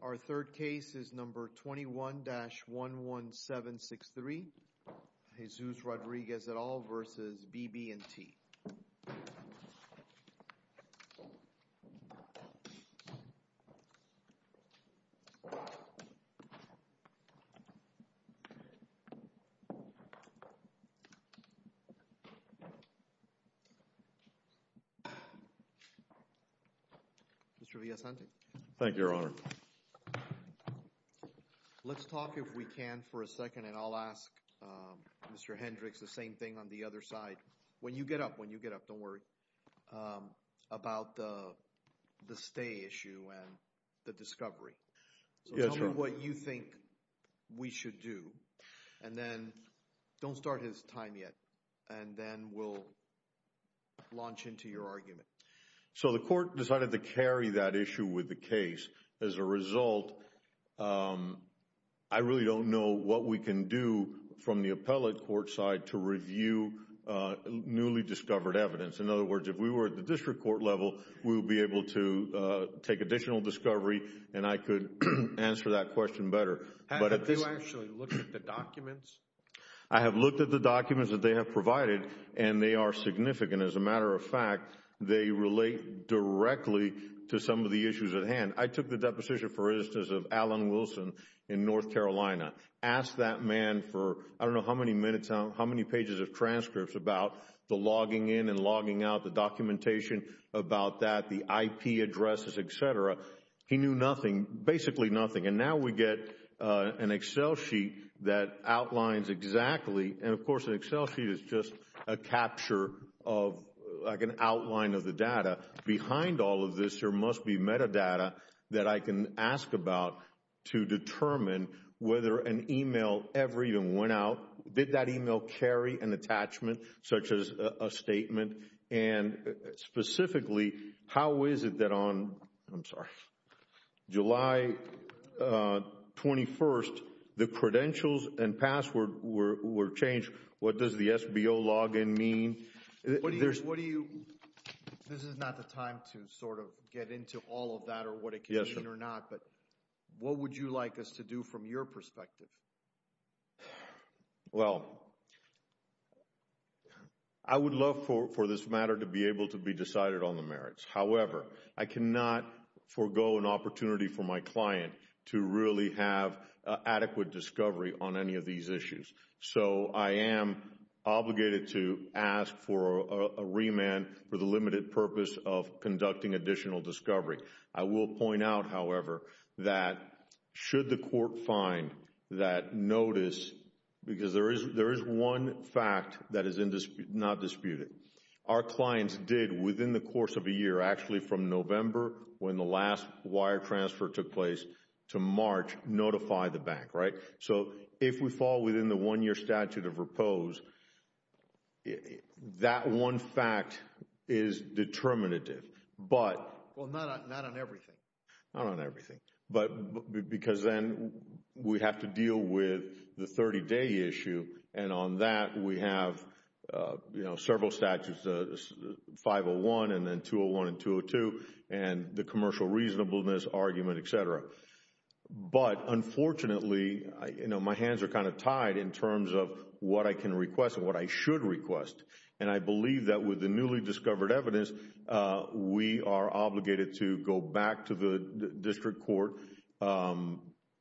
Our third case is number 21-11763, Jesus Rodriguez et al. v. BB & T. Let's talk if we can for a second and I'll ask Mr. Hendricks the same thing on the other side. When you get up, when you get up, don't worry, about the stay issue and the discovery. Tell me what you think we should do and then don't start his time yet and then we'll launch into your argument. So the court decided to carry that issue with the case. As a result, I really don't know what we can do from the appellate court side to review newly discovered evidence. In other words, if we were at the district court level, we would be able to take additional discovery and I could answer that question better. Have you actually looked at the documents? I have looked at the documents that they have provided and they are significant. As a matter of fact, they relate directly to some of the issues at hand. I took the deposition, for instance, of Alan Wilson in North Carolina. Asked that man for I don't know how many minutes, how many pages of transcripts about the logging in and logging out, the documentation about that, the IP addresses, etc. He knew nothing, basically nothing. And now we get an Excel sheet that outlines exactly, and of course an Excel sheet is just a capture of like an outline of the data. Behind all of this, there must be metadata that I can ask about to determine whether an email ever even went out. Did that email carry an attachment such as a statement? And specifically, how is it that on July 21st, the credentials and password were changed? What does the SBO login mean? What do you, this is not the time to sort of get into all of that or what it can mean or not, but what would you like us to do from your perspective? Well, I would love for this matter to be able to be decided on the merits. However, I cannot forego an opportunity for my client to really have adequate discovery on any of these issues. So I am obligated to ask for a remand for the limited purpose of conducting additional discovery. I will point out, however, that should the court find that notice, because there is one fact that is not disputed. Our clients did within the course of a year, actually from November when the last wire transfer took place to March, notify the bank, right? So if we fall within the one-year statute of repose, that one fact is determinative, but... Well, not on everything. Not on everything, but because then we have to deal with the 30-day issue, and on that we have several statutes, 501 and then 201 and 202, and the commercial reasonableness argument, et cetera. But, unfortunately, my hands are kind of tied in terms of what I can request and what I should request, and I believe that with the newly discovered evidence, we are obligated to go back to the district court,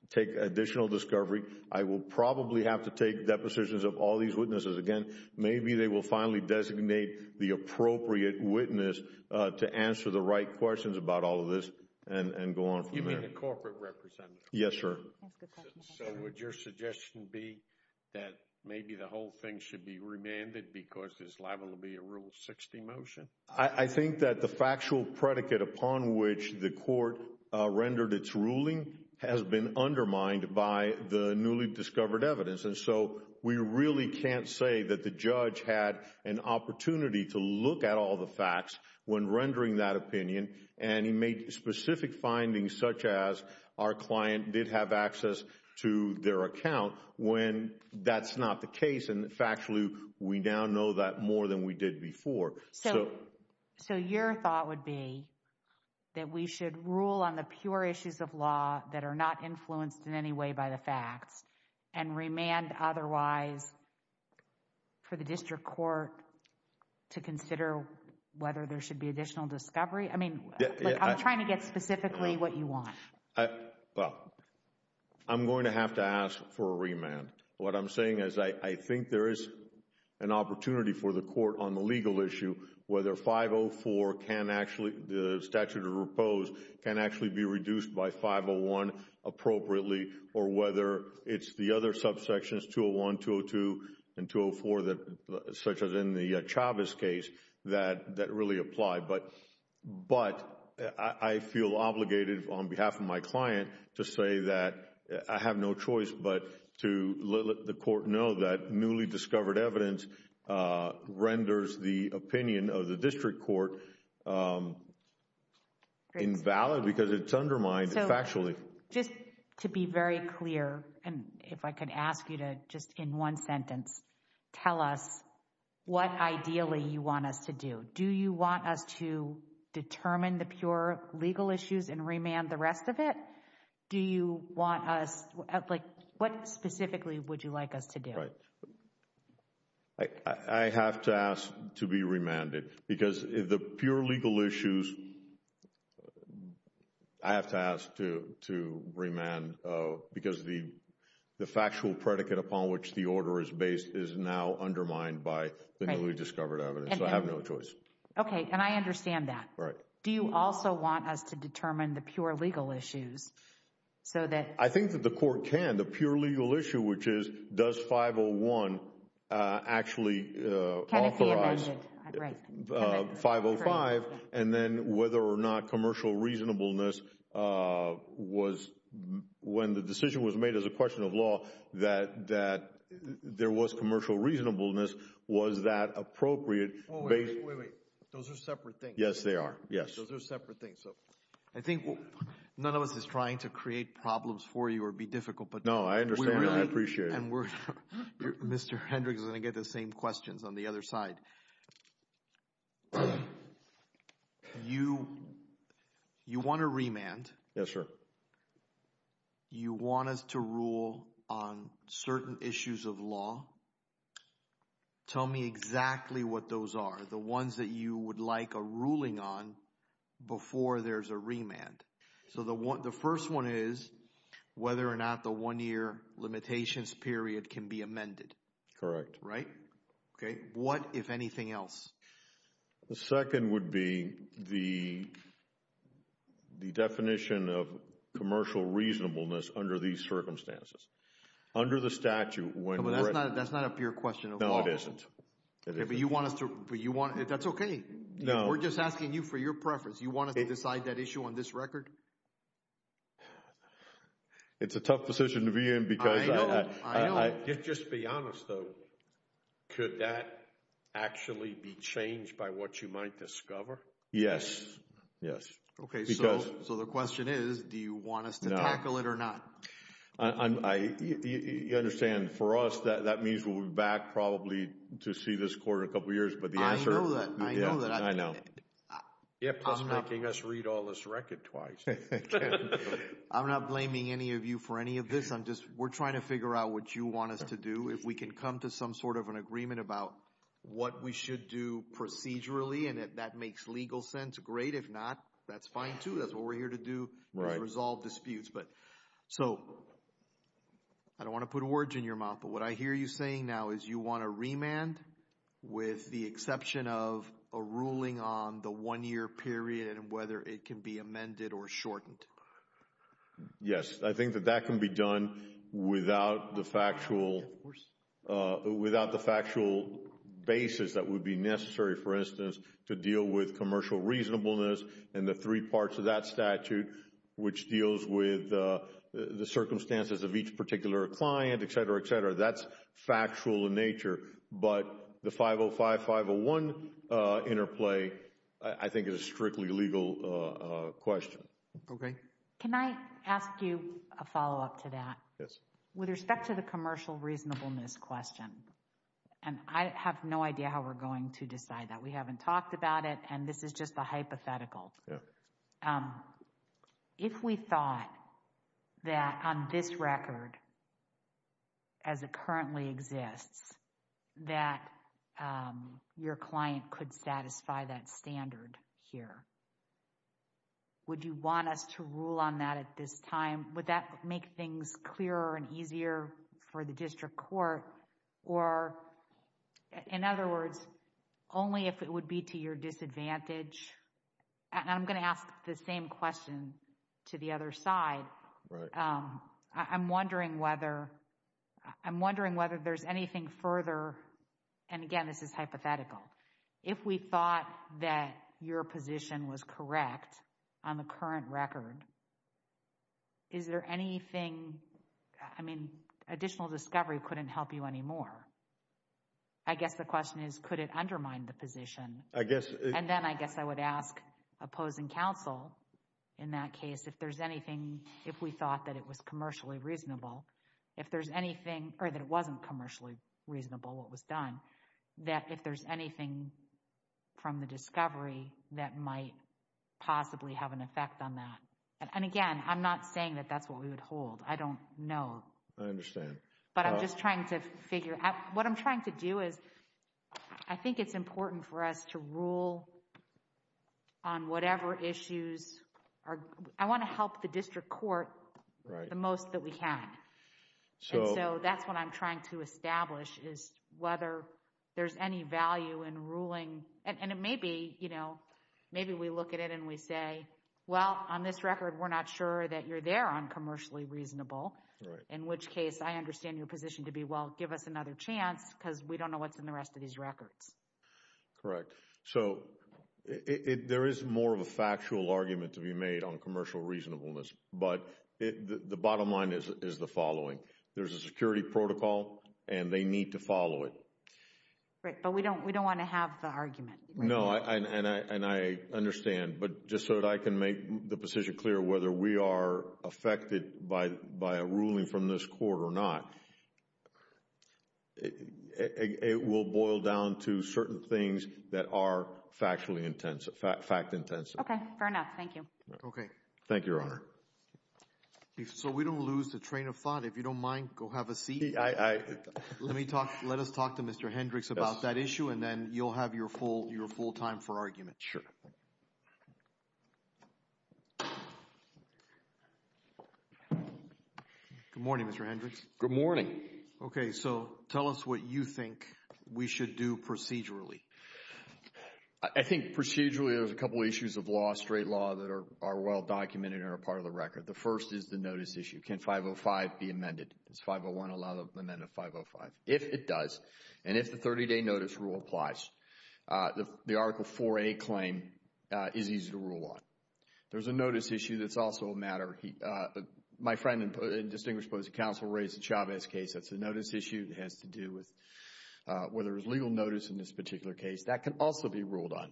take additional discovery. I will probably have to take depositions of all these witnesses again. Maybe they will finally designate the appropriate witness to answer the right questions about all of this and go on from there. You mean the corporate representative? Yes, sir. That's a good question. So would your suggestion be that maybe the whole thing should be remanded because this level will be a Rule 60 motion? I think that the factual predicate upon which the court rendered its ruling has been undermined by the newly discovered evidence, and so we really can't say that the judge had an opportunity to look at all the facts when rendering that opinion, and he made specific findings such as our client did have access to their account when that's not the case, and factually, we now know that more than we did before. So your thought would be that we should rule on the pure issues of law that are not influenced in any way by the facts and remand otherwise for the district court to consider whether there should be additional discovery? I mean, I'm trying to get specifically what you want. Well, I'm going to have to ask for a remand. What I'm saying is I think there is an opportunity for the court on the legal issue whether 504 the statute of repose can actually be reduced by 501 appropriately or whether it's the other subsections 201, 202, and 204 such as in the Chavez case that really apply, but I feel obligated on behalf of my client to say that I have no choice but to let the court know that newly discovered evidence renders the opinion of the district court invalid because it's undermined factually. Just to be very clear, and if I could ask you to just in one sentence, tell us what ideally you want us to do. Do you want us to determine the pure legal issues and remand the rest of it? Do you want us, like, what specifically would you like us to do? I have to ask to be remanded because the pure legal issues, I have to ask to remand because the factual predicate upon which the order is based is now undermined by the newly discovered evidence. I have no choice. Okay. And I understand that. Do you also want us to determine the pure legal issues? I think that the court can. The pure legal issue, which is, does 501 actually authorize 505 and then whether or not commercial reasonableness was, when the decision was made as a question of law, that there was commercial reasonableness. Was that appropriate? Wait, wait, wait. Those are separate things. Yes, they are. Yes. Those are separate things. So I think none of us is trying to create problems for you or be difficult, but we're not. No, I understand. I appreciate it. And we're not. Mr. Hendricks is going to get the same questions on the other side. You want a remand. Yes, sir. You want us to rule on certain issues of law. Tell me exactly what those are. The ones that you would like a ruling on before there's a remand. So the first one is whether or not the one-year limitations period can be amended. Correct. Right? Okay. What, if anything else? The second would be the definition of commercial reasonableness under these circumstances. Under the statute, when— But that's not a pure question of law. No, it isn't. But you want us to—that's okay. No. We're just asking you for your preference. You want us to decide that issue on this record? It's a tough decision to be in because— I know. I know. Just be honest, though. Could that actually be changed by what you might discover? Yes. Yes. Because— Okay, so the question is, do you want us to tackle it or not? You understand, for us, that means we'll be back probably to see this court in a couple years, but the answer— I know that. I know that. Yeah, plus making us read all this record twice. I'm not blaming any of you for any of this. I'm just—we're trying to figure out what you want us to do. If we can come to some sort of an agreement about what we should do procedurally and if that makes legal sense, great. If not, that's fine, too. That's what we're here to do. Right. Resolve disputes. So, I don't want to put words in your mouth, but what I hear you saying now is you want to remand with the exception of a ruling on the one-year period and whether it can be amended or shortened. Yes, I think that that can be done without the factual basis that would be necessary, for instance, to deal with commercial reasonableness and the three parts of that statute, which deals with the circumstances of each particular client, et cetera, et cetera. That's factual in nature, but the 505-501 interplay, I think, is a strictly legal question. Okay. Can I ask you a follow-up to that? Yes. With respect to the commercial reasonableness question, and I have no idea how we're going to decide that. We haven't talked about it, and this is just a hypothetical. Yeah. So, if we thought that on this record, as it currently exists, that your client could satisfy that standard here, would you want us to rule on that at this time? Would that make things clearer and easier for the district court, or in other words, only if it would be to your disadvantage? And I'm going to ask the same question to the other side. I'm wondering whether there's anything further, and again, this is hypothetical. If we thought that your position was correct on the current record, is there anything, I mean, additional discovery couldn't help you anymore? I guess the question is, could it undermine the position? I guess it... And then I guess I would ask opposing counsel in that case if there's anything, if we thought that it was commercially reasonable, if there's anything, or that it wasn't commercially reasonable what was done, that if there's anything from the discovery that might possibly have an effect on that. And again, I'm not saying that that's what we would hold. I don't know. I understand. But I'm just trying to figure out, what I'm trying to do is, I think it's important for us to rule on whatever issues are, I want to help the district court the most that we can. And so that's what I'm trying to establish is whether there's any value in ruling, and it may be, you know, maybe we look at it and we say, well, on this record, we're not sure that you're there on commercially reasonable, in which case I understand your position to be, well, give us another chance because we don't know what's in the rest of these records. Correct. So, there is more of a factual argument to be made on commercial reasonableness. But the bottom line is the following, there's a security protocol and they need to follow it. Right. But we don't want to have the argument. No. And I understand. But just so that I can make the position clear, whether we are affected by a ruling from this court or not, it will boil down to certain things that are factually intensive, fact intensive. Okay. Fair enough. Thank you. Okay. Thank you, Your Honor. So, we don't lose the train of thought. If you don't mind, go have a seat. Let me talk, let us talk to Mr. Hendricks about that issue and then you'll have your full, your full time for argument. Sure. Good morning, Mr. Hendricks. Good morning. Okay. So, tell us what you think we should do procedurally. I think procedurally, there's a couple of issues of law, straight law that are well documented and are part of the record. The first is the notice issue. Can 505 be amended? Does 501 allow the amendment of 505? If it does. And if the 30-day notice rule applies, the Article 4A claim is easy to rule on. There's a notice issue that's also a matter. My friend and distinguished counsel raised the Chavez case. That's a notice issue. It has to do with whether there's legal notice in this particular case. That can also be ruled on.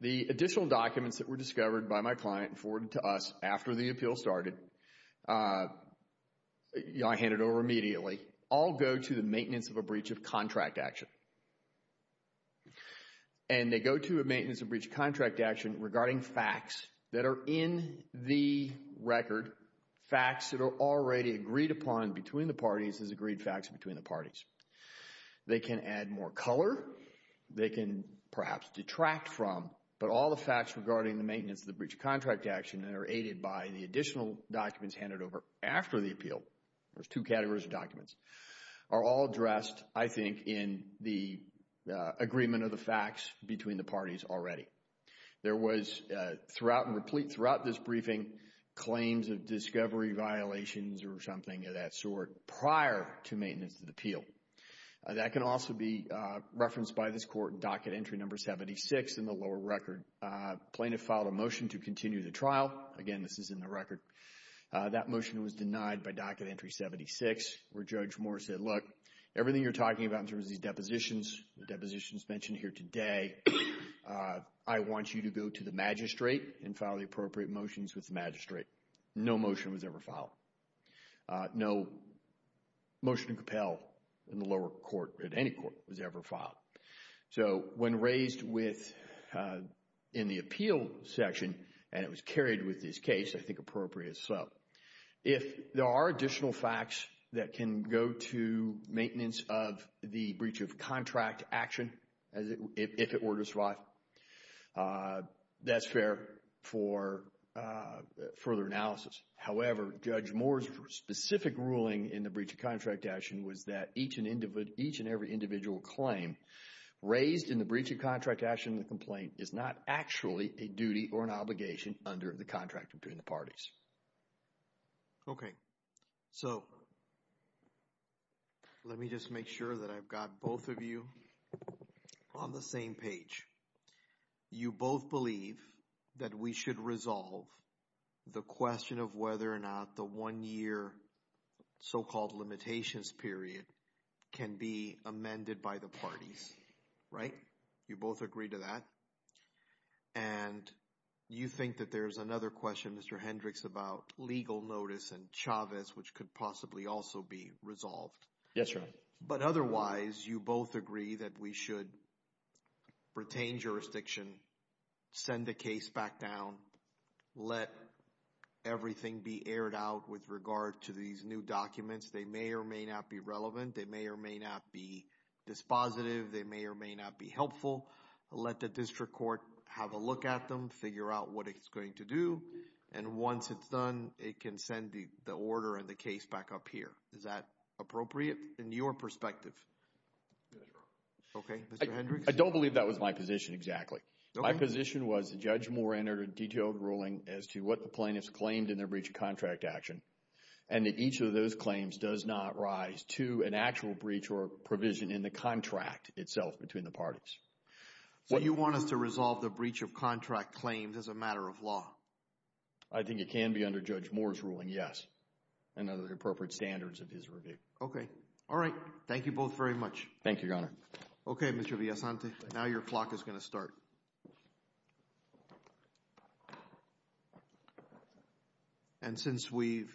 The additional documents that were discovered by my client and forwarded to us after the contract action. And they go to a maintenance of breach of contract action regarding facts that are in the record. Facts that are already agreed upon between the parties as agreed facts between the parties. They can add more color. They can perhaps detract from, but all the facts regarding the maintenance of the breach of contract action that are aided by the additional documents handed over after the appeal, there's a link in the agreement of the facts between the parties already. There was, throughout and replete throughout this briefing, claims of discovery violations or something of that sort prior to maintenance of the appeal. That can also be referenced by this court docket entry number 76 in the lower record. Plaintiff filed a motion to continue the trial. Again, this is in the record. That motion was denied by docket entry 76 where Judge Moore said, look, everything you're doing in terms of these depositions, the depositions mentioned here today, I want you to go to the magistrate and file the appropriate motions with the magistrate. No motion was ever filed. No motion to compel in the lower court, at any court, was ever filed. So when raised with, in the appeal section, and it was carried with this case, I think appropriate as well. If there are additional facts that can go to maintenance of the breach of contract action, if it were to survive, that's fair for further analysis. However, Judge Moore's specific ruling in the breach of contract action was that each and every individual claim raised in the breach of contract action in the complaint is not actually a duty or an obligation under the contract between the parties. Okay. So let me just make sure that I've got both of you on the same page. You both believe that we should resolve the question of whether or not the one-year so-called limitations period can be amended by the parties, right? You both agree to that? And you think that there's another question, Mr. Hendricks, about legal notice and Chavez, which could possibly also be resolved? Yes, Your Honor. But otherwise, you both agree that we should retain jurisdiction, send the case back down, let everything be aired out with regard to these new documents. They may or may not be relevant. They may or may not be dispositive. They may or may not be helpful. Let the district court have a look at them, figure out what it's going to do. And once it's done, it can send the order and the case back up here. Is that appropriate in your perspective? Yes, Your Honor. Okay. Mr. Hendricks? I don't believe that was my position exactly. My position was that Judge Moore entered a detailed ruling as to what the plaintiffs claimed in their breach of contract action. And that each of those claims does not rise to an actual breach or provision in the contract itself between the parties. So you want us to resolve the breach of contract claims as a matter of law? I think it can be under Judge Moore's ruling, yes, and under the appropriate standards of his review. Okay. All right. Thank you both very much. Thank you, Your Honor. Okay, Mr. Villesante. Now your clock is going to start. And since we've,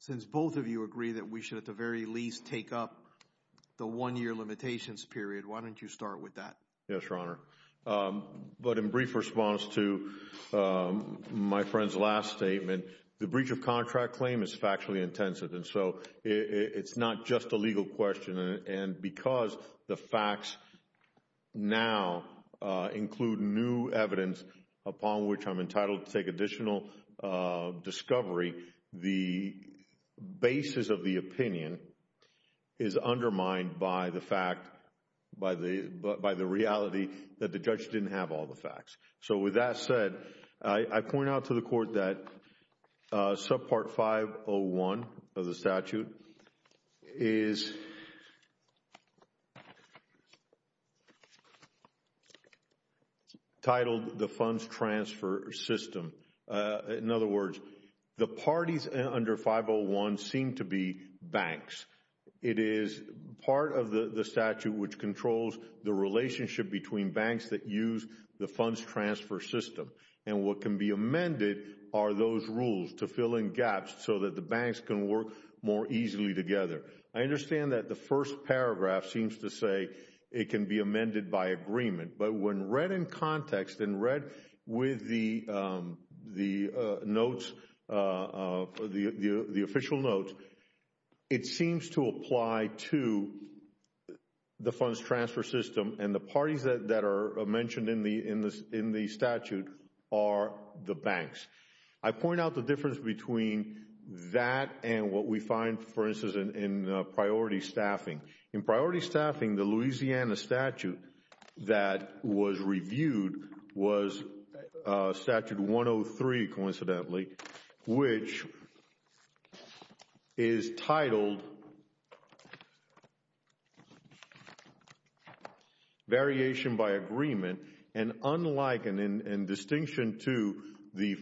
since both of you agree that we should at the very least take up the one year limitations period, why don't you start with that? Yes, Your Honor. But in brief response to my friend's last statement, the breach of contract claim is factually intensive. And so it's not just a legal question. And because the facts now include new evidence upon which I'm entitled to take additional discovery, the basis of the opinion is undermined by the fact, by the reality that the judge didn't have all the facts. So with that said, I point out to the Court that subpart 501 of the statute is titled the Funds Transfer System. In other words, the parties under 501 seem to be banks. It is part of the statute which controls the relationship between banks that use the Funds Transfer System. And what can be amended are those rules to fill in gaps so that the banks can work more easily together. I understand that the first paragraph seems to say it can be amended by agreement. But when read in context and read with the notes, the official notes, it seems to apply to the Funds Transfer System and the parties that are mentioned in the statute are the banks. I point out the difference between that and what we find, for instance, in priority staffing. In priority staffing, the Louisiana statute that was reviewed was statute 103, coincidentally, which is titled Variation by Agreement. And unlike and in distinction to the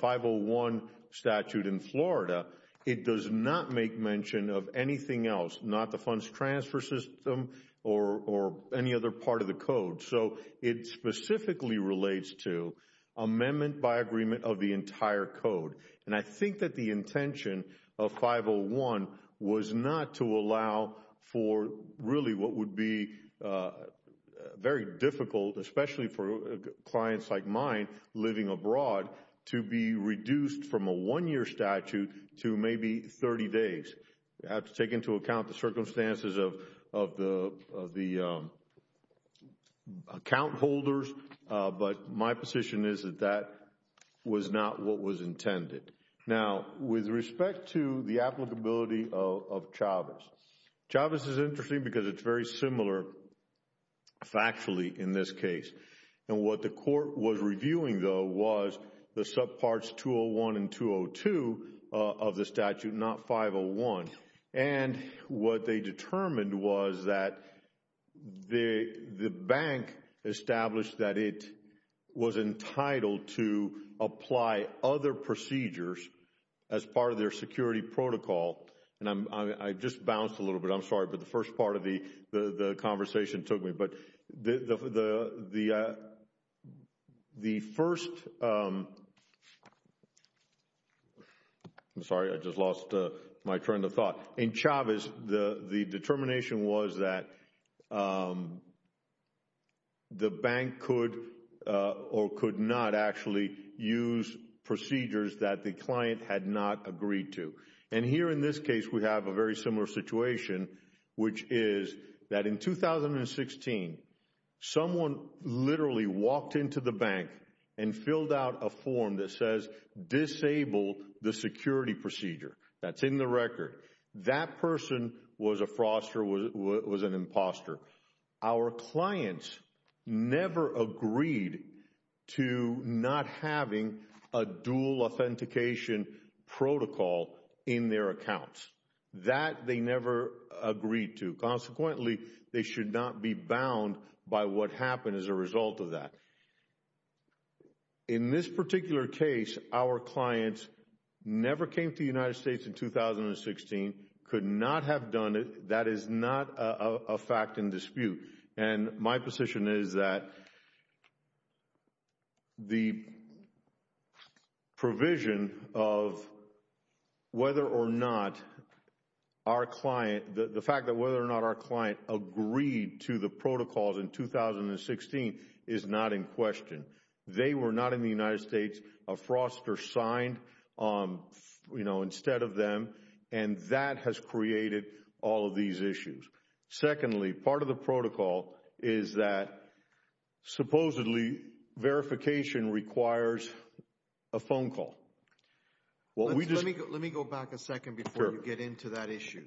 501 statute in Florida, it does not make mention of anything else, not the Funds Transfer System or any other part of the code. So it specifically relates to amendment by agreement of the entire code. And I think that the intention of 501 was not to allow for really what would be very difficult, especially for clients like mine living abroad, to be reduced from a one-year statute to maybe 30 days. You have to take into account the circumstances of the account holders. But my position is that that was not what was intended. Now, with respect to the applicability of Chavez, Chavez is interesting because it's very similar factually in this case. And what the court was reviewing, though, was the subparts 201 and 202 of the statute, not 501. And what they determined was that the bank established that it was entitled to apply other procedures as part of their security protocol. And I just bounced a little bit. I'm sorry, but the first part of the conversation took me. But the first, I'm sorry, I just lost my train of thought. In Chavez, the determination was that the bank could or could not actually use procedures that the client had not agreed to. And here in this case, we have a very similar situation, which is that in 2016, someone literally walked into the bank and filled out a form that says, disable the security procedure. That's in the record. That person was a fraudster, was an imposter. Our clients never agreed to not having a dual authentication protocol in their accounts. That they never agreed to. Consequently, they should not be bound by what happened as a result of that. In this particular case, our clients never came to the United States in 2016, could not have done it. That is not a fact in dispute. And my position is that the provision of whether or not our client, the fact that whether or not our client agreed to the protocols in 2016 is not in question. They were not in the United States, a fraudster signed, you know, instead of them. And that has created all of these issues. Secondly, part of the protocol is that supposedly verification requires a phone call. Let me go back a second before we get into that issue.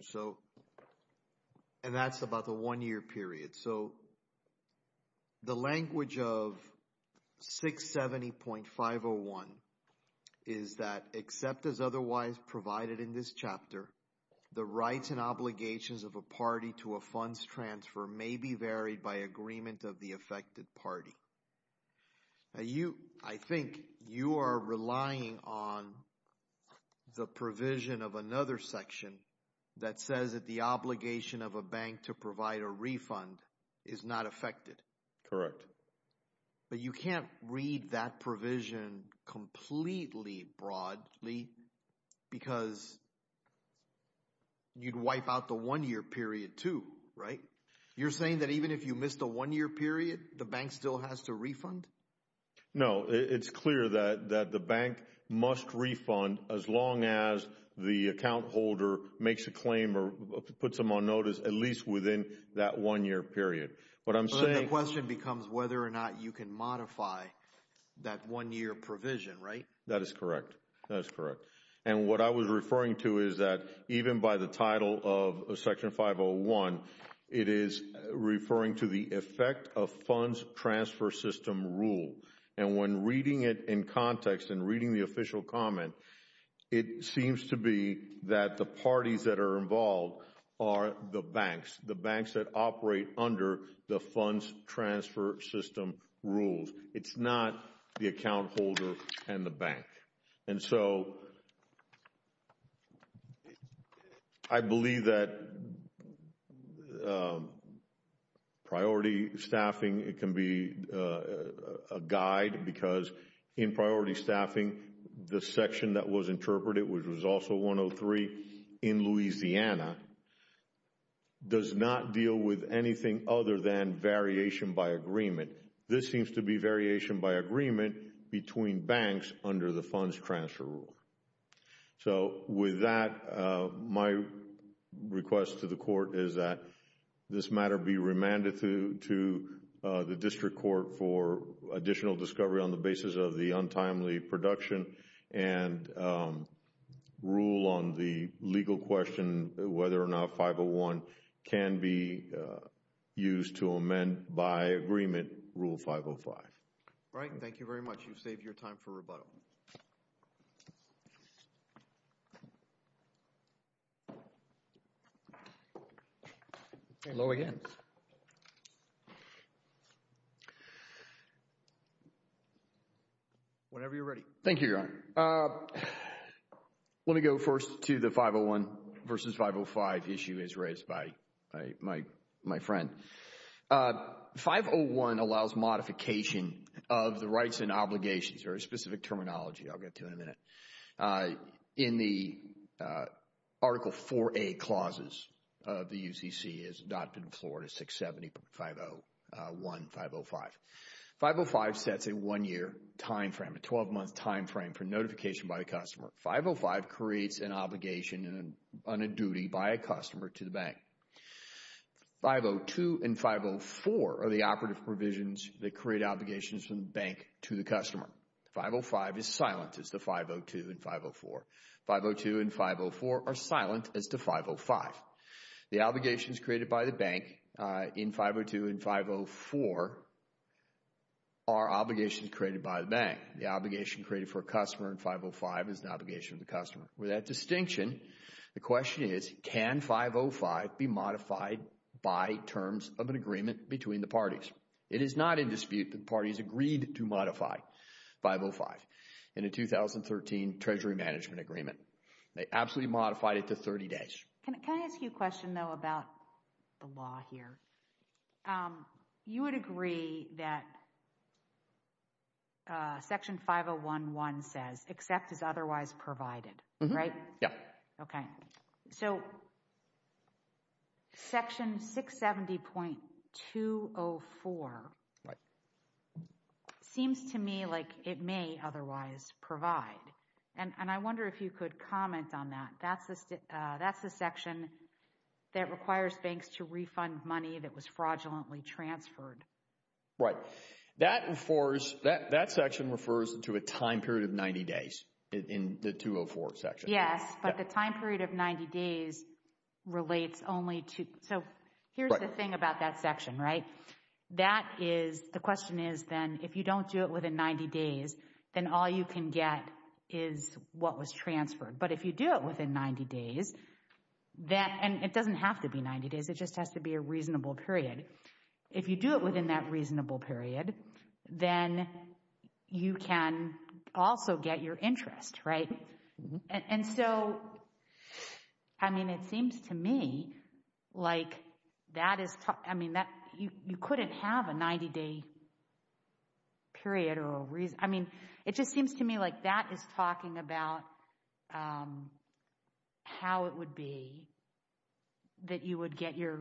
And that's about the one year period. So the language of 670.501 is that except as otherwise provided in this chapter, the rights and obligations of a party to a funds transfer may be varied by agreement of the affected party. I think you are relying on the provision of another section that says that the obligation of a bank to provide a refund is not affected. Correct. But you can't read that provision completely broadly because you'd wipe out the one year period too, right? You're saying that even if you miss the one year period, the bank still has to refund? No, it's clear that the bank must refund as long as the account holder makes a claim or puts them on notice at least within that one year period. But the question becomes whether or not you can modify that one year provision, right? That is correct. That is correct. And what I was referring to is that even by the title of Section 501, it is referring to the effect of funds transfer system rule. And when reading it in context and reading the official comment, it seems to be that the parties that are involved are the banks. The banks that operate under the funds transfer system rules. It's not the account holder and the bank. And so, I believe that priority staffing can be a guide because in priority staffing, the in Louisiana, does not deal with anything other than variation by agreement. This seems to be variation by agreement between banks under the funds transfer rule. So with that, my request to the court is that this matter be remanded to the district court for additional discovery on the basis of the untimely production and rule on the legal question whether or not 501 can be used to amend by agreement Rule 505. All right. Thank you very much. You've saved your time for rebuttal. Hello again. Whenever you're ready. Thank you, Your Honor. Let me go first to the 501 versus 505 issue as raised by my friend. 501 allows modification of the rights and obligations or a specific terminology I'll get to in a minute. In the Article 4A clauses of the UCC as adopted in Florida 670.501.505. 505 sets a one-year time frame, a 12-month time frame for notification by the customer. 505 creates an obligation on a duty by a customer to the bank. 502 and 504 are the operative provisions that create obligations from the bank to the customer. 505 is silent as to 502 and 504. 502 and 504 are silent as to 505. The obligations created by the bank in 502 and 504 are obligations created by the bank. The obligation created for a customer in 505 is an obligation of the customer. With that distinction, the question is, can 505 be modified by terms of an agreement between the parties? It is not in dispute that parties agreed to modify 505 in a 2013 Treasury Management Agreement. They absolutely modified it to 30 days. Can I ask you a question, though, about the law here? You would agree that Section 501.1 says, except as otherwise provided, right? Yeah. Okay. So, Section 670.204 seems to me like it may otherwise provide, and I wonder if you could comment on that. That's the section that requires banks to refund money that was fraudulently transferred. Right. That section refers to a time period of 90 days in the 204 section. Yes, but the time period of 90 days relates only to, so here's the thing about that section, right? That is, the question is then, if you don't do it within 90 days, then all you can get is what was transferred. But if you do it within 90 days, and it doesn't have to be 90 days, it just has to be a reasonable period. If you do it within that reasonable period, then you can also get your interest, right? And so, I mean, it seems to me like that is, I mean, you couldn't have a 90-day period or a reason. I mean, it just seems to me like that is talking about how it would be that you would get your,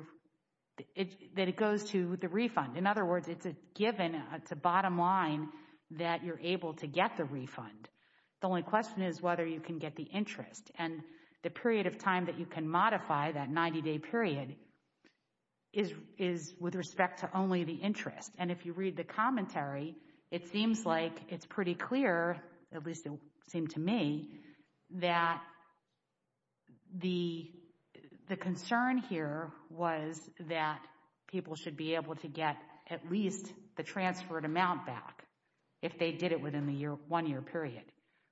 that it goes to the refund. In other words, it's a given, it's a bottom line that you're able to get the refund. The only question is whether you can get the interest. And the period of time that you can modify that 90-day period is with respect to only the interest. And if you read the commentary, it seems like it's pretty clear, at least it seemed to me, that the concern here was that people should be able to get at least the transferred amount back if they did it within the one-year period.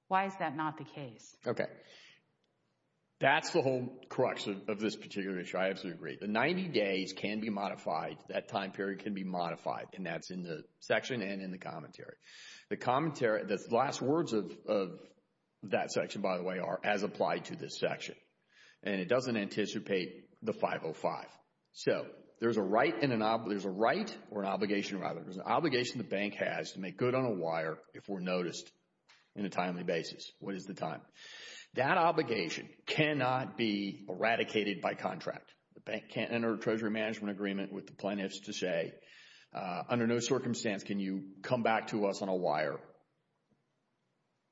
Why is that not the case? Okay. That's the whole crux of this particular issue. I absolutely agree. The 90 days can be modified, that time period can be modified, and that's in the section and in the commentary. The commentary, the last words of that section, by the way, are, as applied to this section. And it doesn't anticipate the 505. So there's a right or an obligation, rather, there's an obligation the bank has to make good on a wire if we're noticed in a timely basis. What is the time? That obligation cannot be eradicated by contract. The bank can't enter a treasury management agreement with the plaintiffs to say, under no circumstance can you come back to us on a wire,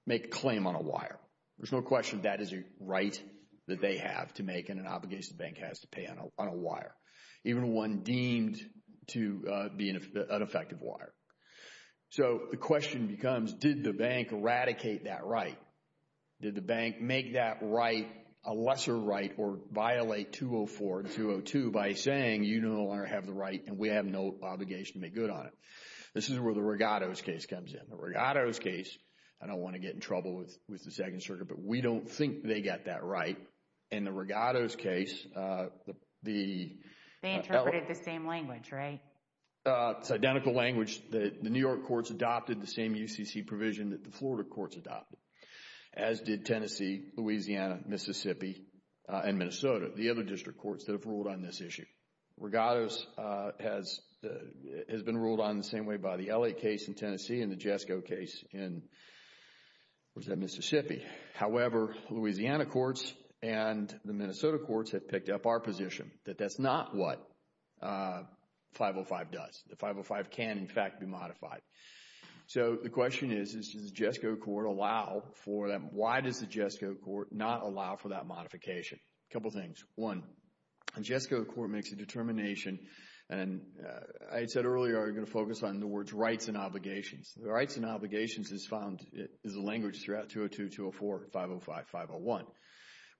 make a claim on a wire. There's no question that is a right that they have to make and an obligation the bank has to pay on a wire, even one deemed to be an ineffective wire. So the question becomes, did the bank eradicate that right? Did the bank make that right a lesser right or violate 204 and 202 by saying, you no longer have the right and we have no obligation to make good on it? This is where the Rigato's case comes in. The Rigato's case, I don't want to get in trouble with the Second Circuit, but we don't think they got that right. In the Rigato's case, the... They interpreted the same language, right? It's identical language. The New York courts adopted the same UCC provision that the Florida courts adopted, as did Tennessee, Louisiana, Mississippi, and Minnesota, the other district courts that have ruled on this issue. Rigato's has been ruled on the same way by the Elliott case in Tennessee and the Jesko case in, what was that, Mississippi. Mississippi. However, Louisiana courts and the Minnesota courts have picked up our position that that's not what 505 does. The 505 can, in fact, be modified. So the question is, does the Jesko court allow for that? Why does the Jesko court not allow for that modification? A couple things. One, the Jesko court makes a determination, and I said earlier I was going to focus on the words rights and obligations. The rights and obligations is found, is a language throughout 202, 204, 505, 501.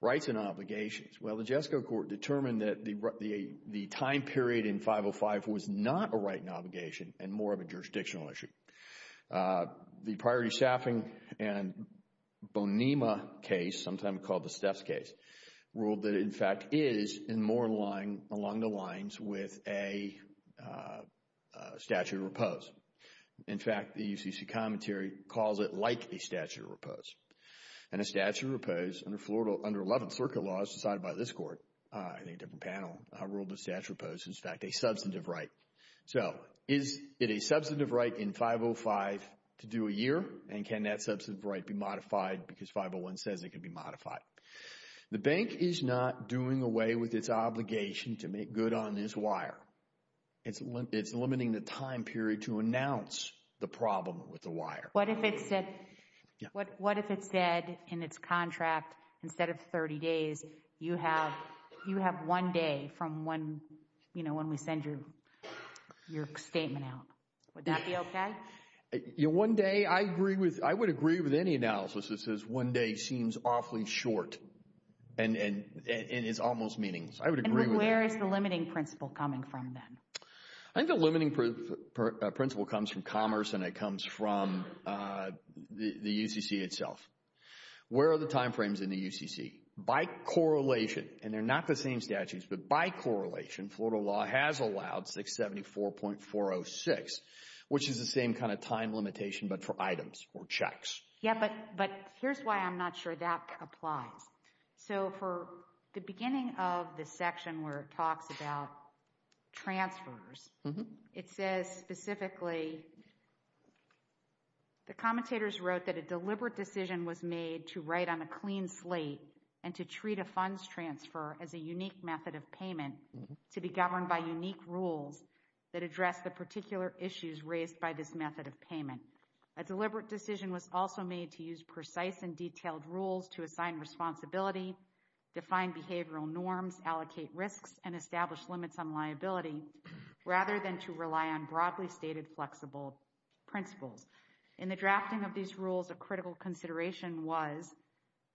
Rights and obligations. Well, the Jesko court determined that the time period in 505 was not a right and obligation and more of a jurisdictional issue. The priority staffing and Bonema case, sometimes called the Steps case, ruled that it, in fact, is in more line, along the lines with a statute of repose. In fact, the UCC commentary calls it like a statute of repose. And a statute of repose, under 11th Circuit laws decided by this court, I think a different panel, ruled the statute of repose, in fact, a substantive right. So is it a substantive right in 505 to do a year, and can that substantive right be modified because 501 says it can be modified? The bank is not doing away with its obligation to make good on this wire. It's limiting the time period to announce the problem with the wire. What if it said, what if it said in its contract, instead of 30 days, you have one day from one, you know, when we send you your statement out, would that be okay? One day, I agree with, I would agree with any analysis that says one day seems awfully short and is almost meaningless. I would agree with that. Where is the limiting principle coming from then? I think the limiting principle comes from commerce and it comes from the UCC itself. Where are the time frames in the UCC? By correlation, and they're not the same statutes, but by correlation, Florida law has allowed 674.406, which is the same kind of time limitation, but for items or checks. Yeah, but here's why I'm not sure that applies. So for the beginning of the section where it talks about transfers, it says specifically, the commentators wrote that a deliberate decision was made to write on a clean slate and to treat a funds transfer as a unique method of payment to be governed by unique rules that address the particular issues raised by this method of payment. A deliberate decision was also made to use precise and detailed rules to assign responsibility, define behavioral norms, allocate risks, and establish limits on liability, rather than to rely on broadly stated flexible principles. In the drafting of these rules, a critical consideration was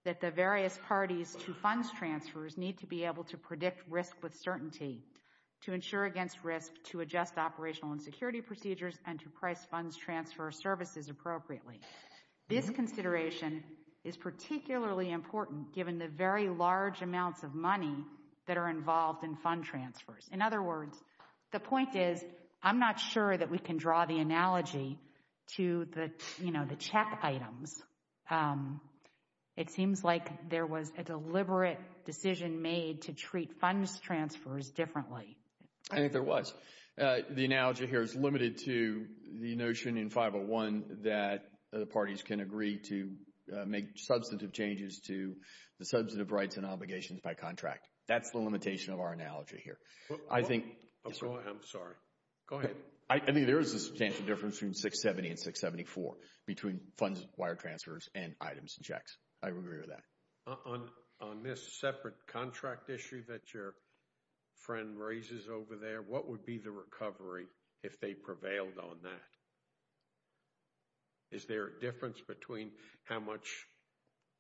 that the various parties to funds transfers need to be able to predict risk with certainty, to ensure against risk, to adjust operational and security procedures, and to price funds transfer services appropriately. This consideration is particularly important given the very large amounts of money that are involved in fund transfers. In other words, the point is, I'm not sure that we can draw the analogy to the, you know, the check items. It seems like there was a deliberate decision made to treat funds transfers differently. I think there was. The analogy here is limited to the notion in 501 that the parties can agree to make substantive changes to the substantive rights and obligations by contract. That's the limitation of our analogy here. I think... Go ahead. I'm sorry. Go ahead. I think there is a substantial difference between 670 and 674 between funds wire transfers and items and checks. I agree with that. On this separate contract issue that your friend raises over there, what would be the recovery if they prevailed on that? Is there a difference between how much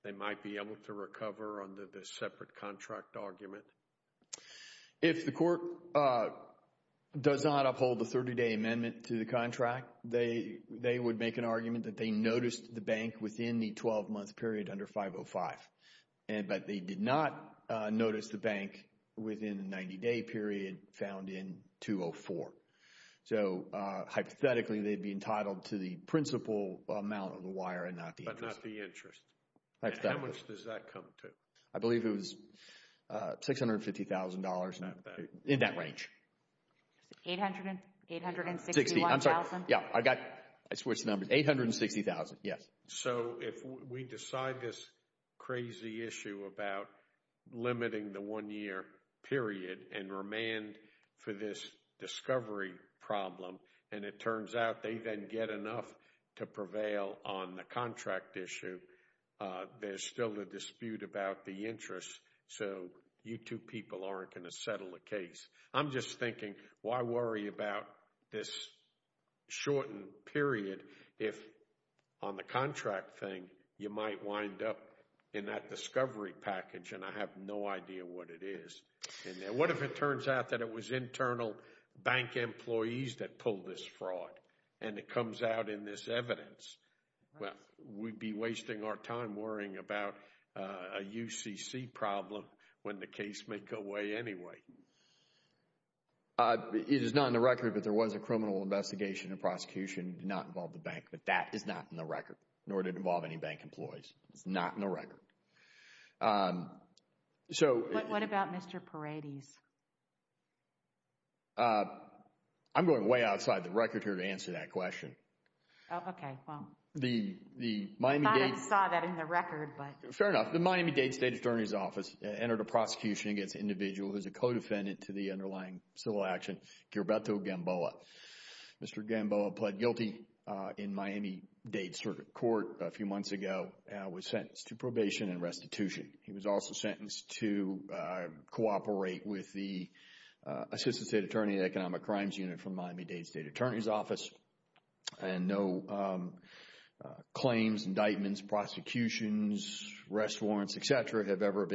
they might be able to recover under this separate contract argument? If the court does not uphold the 30-day amendment to the contract, they would make an argument that they noticed the bank within the 12-month period under 505, but they did not notice the bank within the 90-day period found in 204. So hypothetically, they'd be entitled to the principal amount of the wire and not the interest. But not the interest. How much does that come to? I believe it was $650,000 in that range. $860,000? $860,000. $860,000. I'm sorry. Yeah. I got it. I switched the numbers. $860,000. Yes. So if we decide this crazy issue about limiting the one-year period and remand for this discovery problem, and it turns out they then get enough to prevail on the contract issue, there's still a dispute about the interest. So you two people aren't going to settle the case. I'm just thinking, why worry about this shortened period if on the contract thing, you might wind up in that discovery package, and I have no idea what it is. What if it turns out that it was internal bank employees that pulled this fraud, and it comes out in this evidence? Well, we'd be wasting our time worrying about a UCC problem when the case may go away anyway. It is not in the record, but there was a criminal investigation and prosecution. It did not involve the bank, but that is not in the record, nor did it involve any bank employees. It's not in the record. So... What about Mr. Paredes? I'm going way outside the record here to answer that question. Oh, okay. Well... The Miami-Dade... I thought I saw that in the record, but... Fair enough. The Miami-Dade State Attorney's Office entered a prosecution against an individual who's a co-defendant to the underlying civil action, Gherbeto Gamboa. Mr. Gamboa pled guilty in Miami-Dade Circuit Court a few months ago, and was sentenced to probation and restitution. He was also sentenced to cooperate with the Assistant State Attorney Economic Crimes Unit from Miami-Dade State Attorney's Office, and no claims, indictments, prosecutions, rest of it. He's a former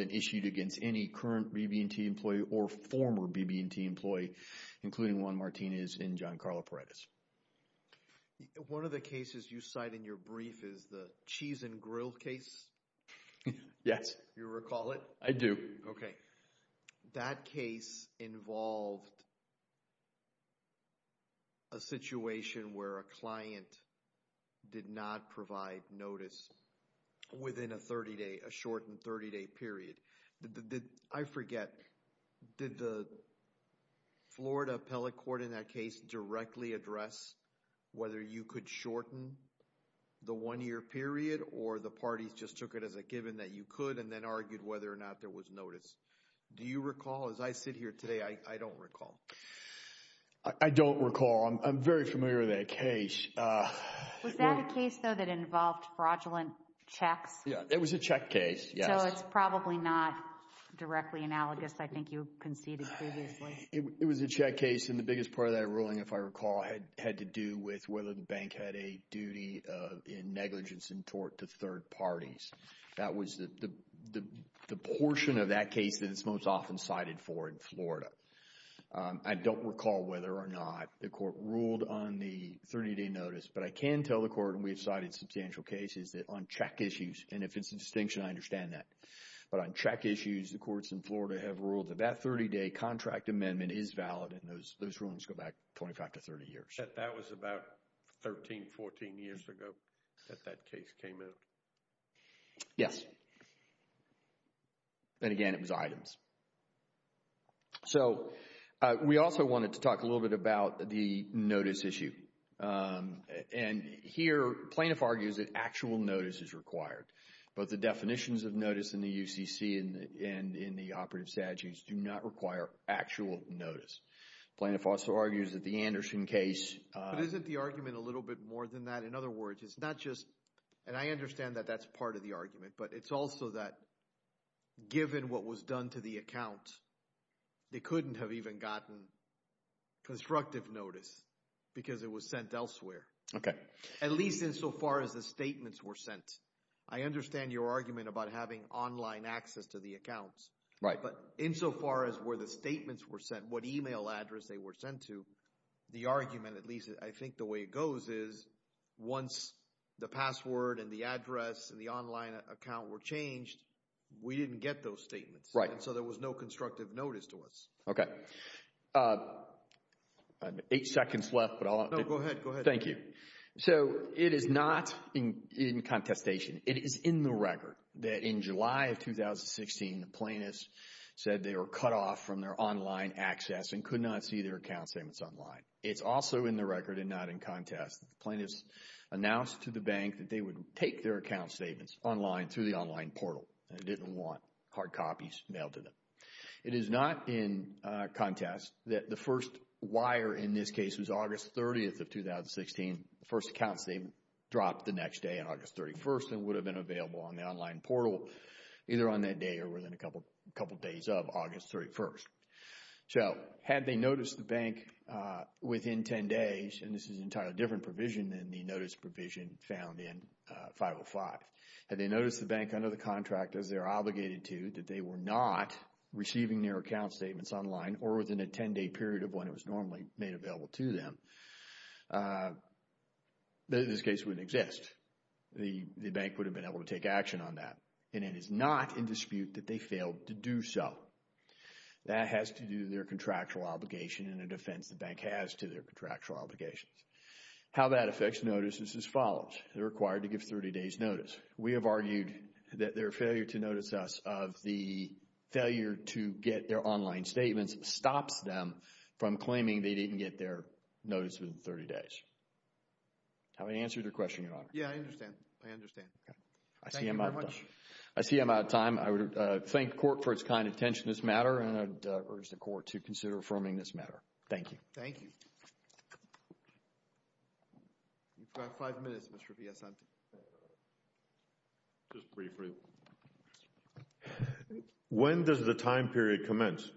BB&T employee, including Juan Martinez and Giancarlo Paredes. One of the cases you cite in your brief is the Cheese and Grill case? Yes. You recall it? I do. Okay. That case involved a situation where a client did not provide notice within a 30-day, a shortened 30-day period. I forget, did the Florida Appellate Court in that case directly address whether you could shorten the one-year period, or the parties just took it as a given that you could, and then argued whether or not there was notice? Do you recall? As I sit here today, I don't recall. I don't recall. I'm very familiar with that case. Was that a case, though, that involved fraudulent checks? Yeah, it was a check case, yes. Even though it's probably not directly analogous, I think you conceded previously. It was a check case, and the biggest part of that ruling, if I recall, had to do with whether the bank had a duty in negligence and tort to third parties. That was the portion of that case that it's most often cited for in Florida. I don't recall whether or not the court ruled on the 30-day notice, but I can tell the court, and we have cited substantial cases, that on check issues, and if it's a distinction, I understand that. But on check issues, the courts in Florida have ruled that that 30-day contract amendment is valid, and those rulings go back 25 to 30 years. That was about 13, 14 years ago that that case came out? Yes. And again, it was items. So we also wanted to talk a little bit about the notice issue. And here, plaintiff argues that actual notice is required. Both the definitions of notice in the UCC and in the operative statutes do not require actual notice. Plaintiff also argues that the Anderson case... But isn't the argument a little bit more than that? In other words, it's not just, and I understand that that's part of the argument, but it's also that given what was done to the account, they couldn't have even gotten constructive notice because it was sent elsewhere, at least insofar as the statements were sent. I understand your argument about having online access to the accounts, but insofar as where the statements were sent, what email address they were sent to, the argument, at least I think the way it goes, is once the password and the address and the online account were changed, we didn't get those statements, and so there was no constructive notice to us. Okay. I have eight seconds left, but I'll... No, go ahead. Go ahead. Thank you. So, it is not in contestation. It is in the record that in July of 2016, the plaintiffs said they were cut off from their online access and could not see their account statements online. It's also in the record and not in contest. The plaintiffs announced to the bank that they would take their account statements online through the online portal and didn't want hard copies mailed to them. It is not in contest that the first wire in this case was August 30th of 2016, the first accounts they dropped the next day on August 31st and would have been available on the online portal either on that day or within a couple days of August 31st. So, had they noticed the bank within 10 days, and this is an entirely different provision than the notice provision found in 505, had they noticed the bank under the contract as they're obligated to that they were not receiving their account statements online or within a 10-day period of when it was normally made available to them, this case wouldn't exist. The bank would have been able to take action on that, and it is not in dispute that they failed to do so. That has to do with their contractual obligation and a defense the bank has to their contractual obligations. How that affects notices is as follows. They're required to give 30 days notice. We have argued that their failure to notice us of the failure to get their online statements stops them from claiming they didn't get their notice within 30 days. Have I answered your question, Your Honor? Yeah, I understand. I understand. Okay. Thank you very much. I see I'm out of time. I would thank the court for its kind attention to this matter, and I would urge the court to consider affirming this matter. Thank you. Thank you. You've got five minutes, Mr. V. S. Mr. V. Sante. Just briefly. When does the time period commence?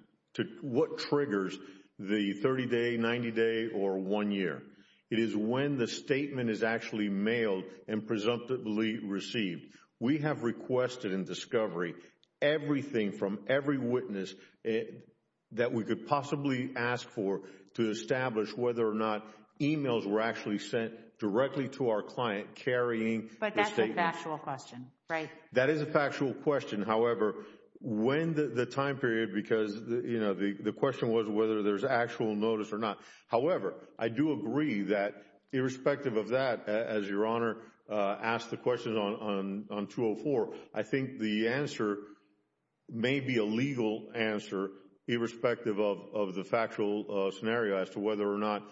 What triggers the 30 day, 90 day, or one year? It is when the statement is actually mailed and presumptively received. We have requested in discovery everything from every witness that we could possibly ask for to establish whether or not emails were actually sent directly to our client carrying the statement. But that's a factual question, right? That is a factual question. However, when the time period, because the question was whether there's actual notice or not. However, I do agree that irrespective of that, as Your Honor asked the question on 204, I think the answer may be a legal answer irrespective of the factual scenario as to whether or not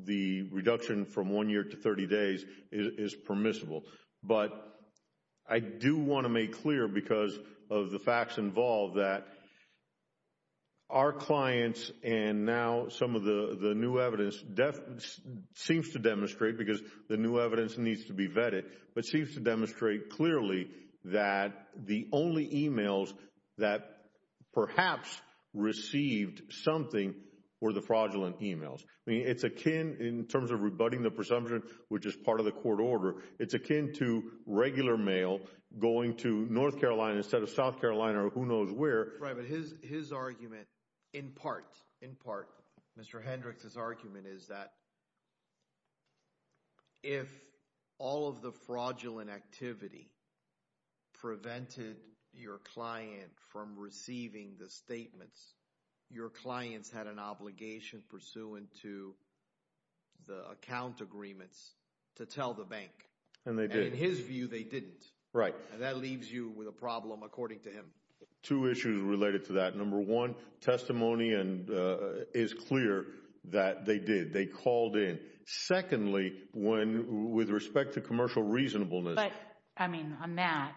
the reduction from one year to 30 days is permissible. But I do want to make clear because of the facts involved that our clients and now some of the new evidence seems to demonstrate because the new evidence needs to be vetted, but seems to demonstrate clearly that the only emails that perhaps received something were the fraudulent emails. I mean, it's akin in terms of rebutting the presumption, which is part of the court order. It's akin to regular mail going to North Carolina instead of South Carolina or who knows where. Right. But his argument in part, in part, Mr. Hendricks' argument is that if all of the fraudulent activity prevented your client from receiving the statements, your clients had an obligation pursuant to the account agreements to tell the bank. And they did. And in his view, they didn't. Right. And that leaves you with a problem, according to him. Two issues related to that. Number one, testimony is clear that they did. They called in. Secondly, when with respect to commercial reasonableness. But, I mean, on that,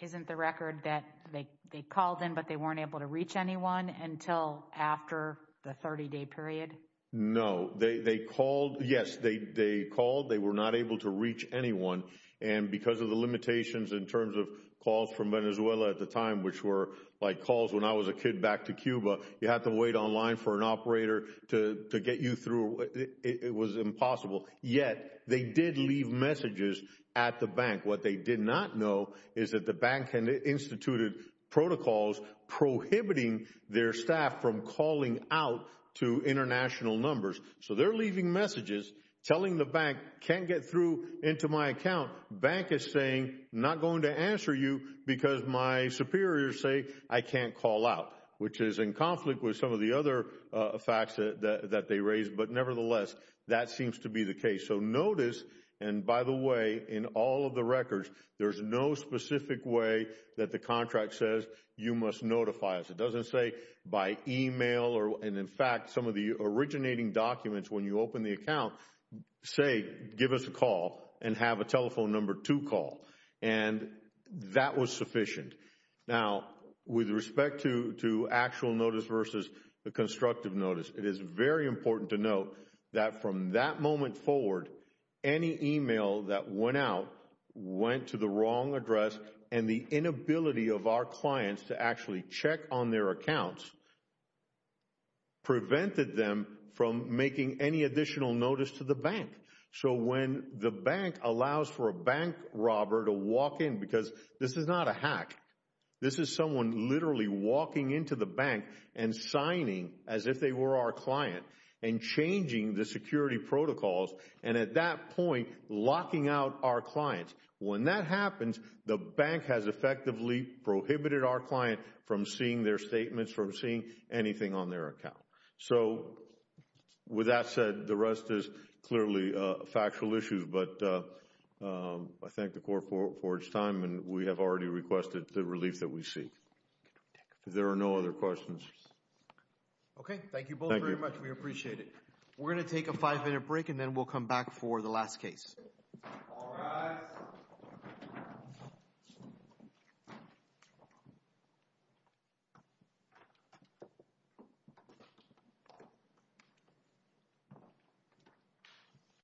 isn't the record that they called in, but they weren't able to reach anyone until after the 30-day period? No. They called. Yes, they called. They were not able to reach anyone. And because of the limitations in terms of calls from Venezuela at the time, which were like calls when I was a kid back to Cuba, you had to wait online for an operator to get you through. It was impossible. Yet, they did leave messages at the bank. What they did not know is that the bank had instituted protocols prohibiting their staff from calling out to international numbers. So they're leaving messages telling the bank, can't get through into my account. Bank is saying, not going to answer you because my superiors say I can't call out. Which is in conflict with some of the other facts that they raised. But nevertheless, that seems to be the case. So notice, and by the way, in all of the records, there's no specific way that the contract says you must notify us. It doesn't say by email, and in fact, some of the originating documents when you open the account say, give us a call and have a telephone number to call. And that was sufficient. Now, with respect to actual notice versus the constructive notice, it is very important to note that from that moment forward, any email that went out, went to the wrong address, and the inability of our clients to actually check on their accounts prevented them from making any additional notice to the bank. So when the bank allows for a bank robber to walk in, because this is not a hack. This is someone literally walking into the bank and signing as if they were our client. And changing the security protocols, and at that point, locking out our clients. When that happens, the bank has effectively prohibited our client from seeing their statements, from seeing anything on their account. So with that said, the rest is clearly factual issues. But I thank the court for its time, and we have already requested the relief that we seek. If there are no other questions. Okay. Thank you both very much. Thank you. We appreciate it. We're going to take a five-minute break, and then we'll come back for the last case. All rise.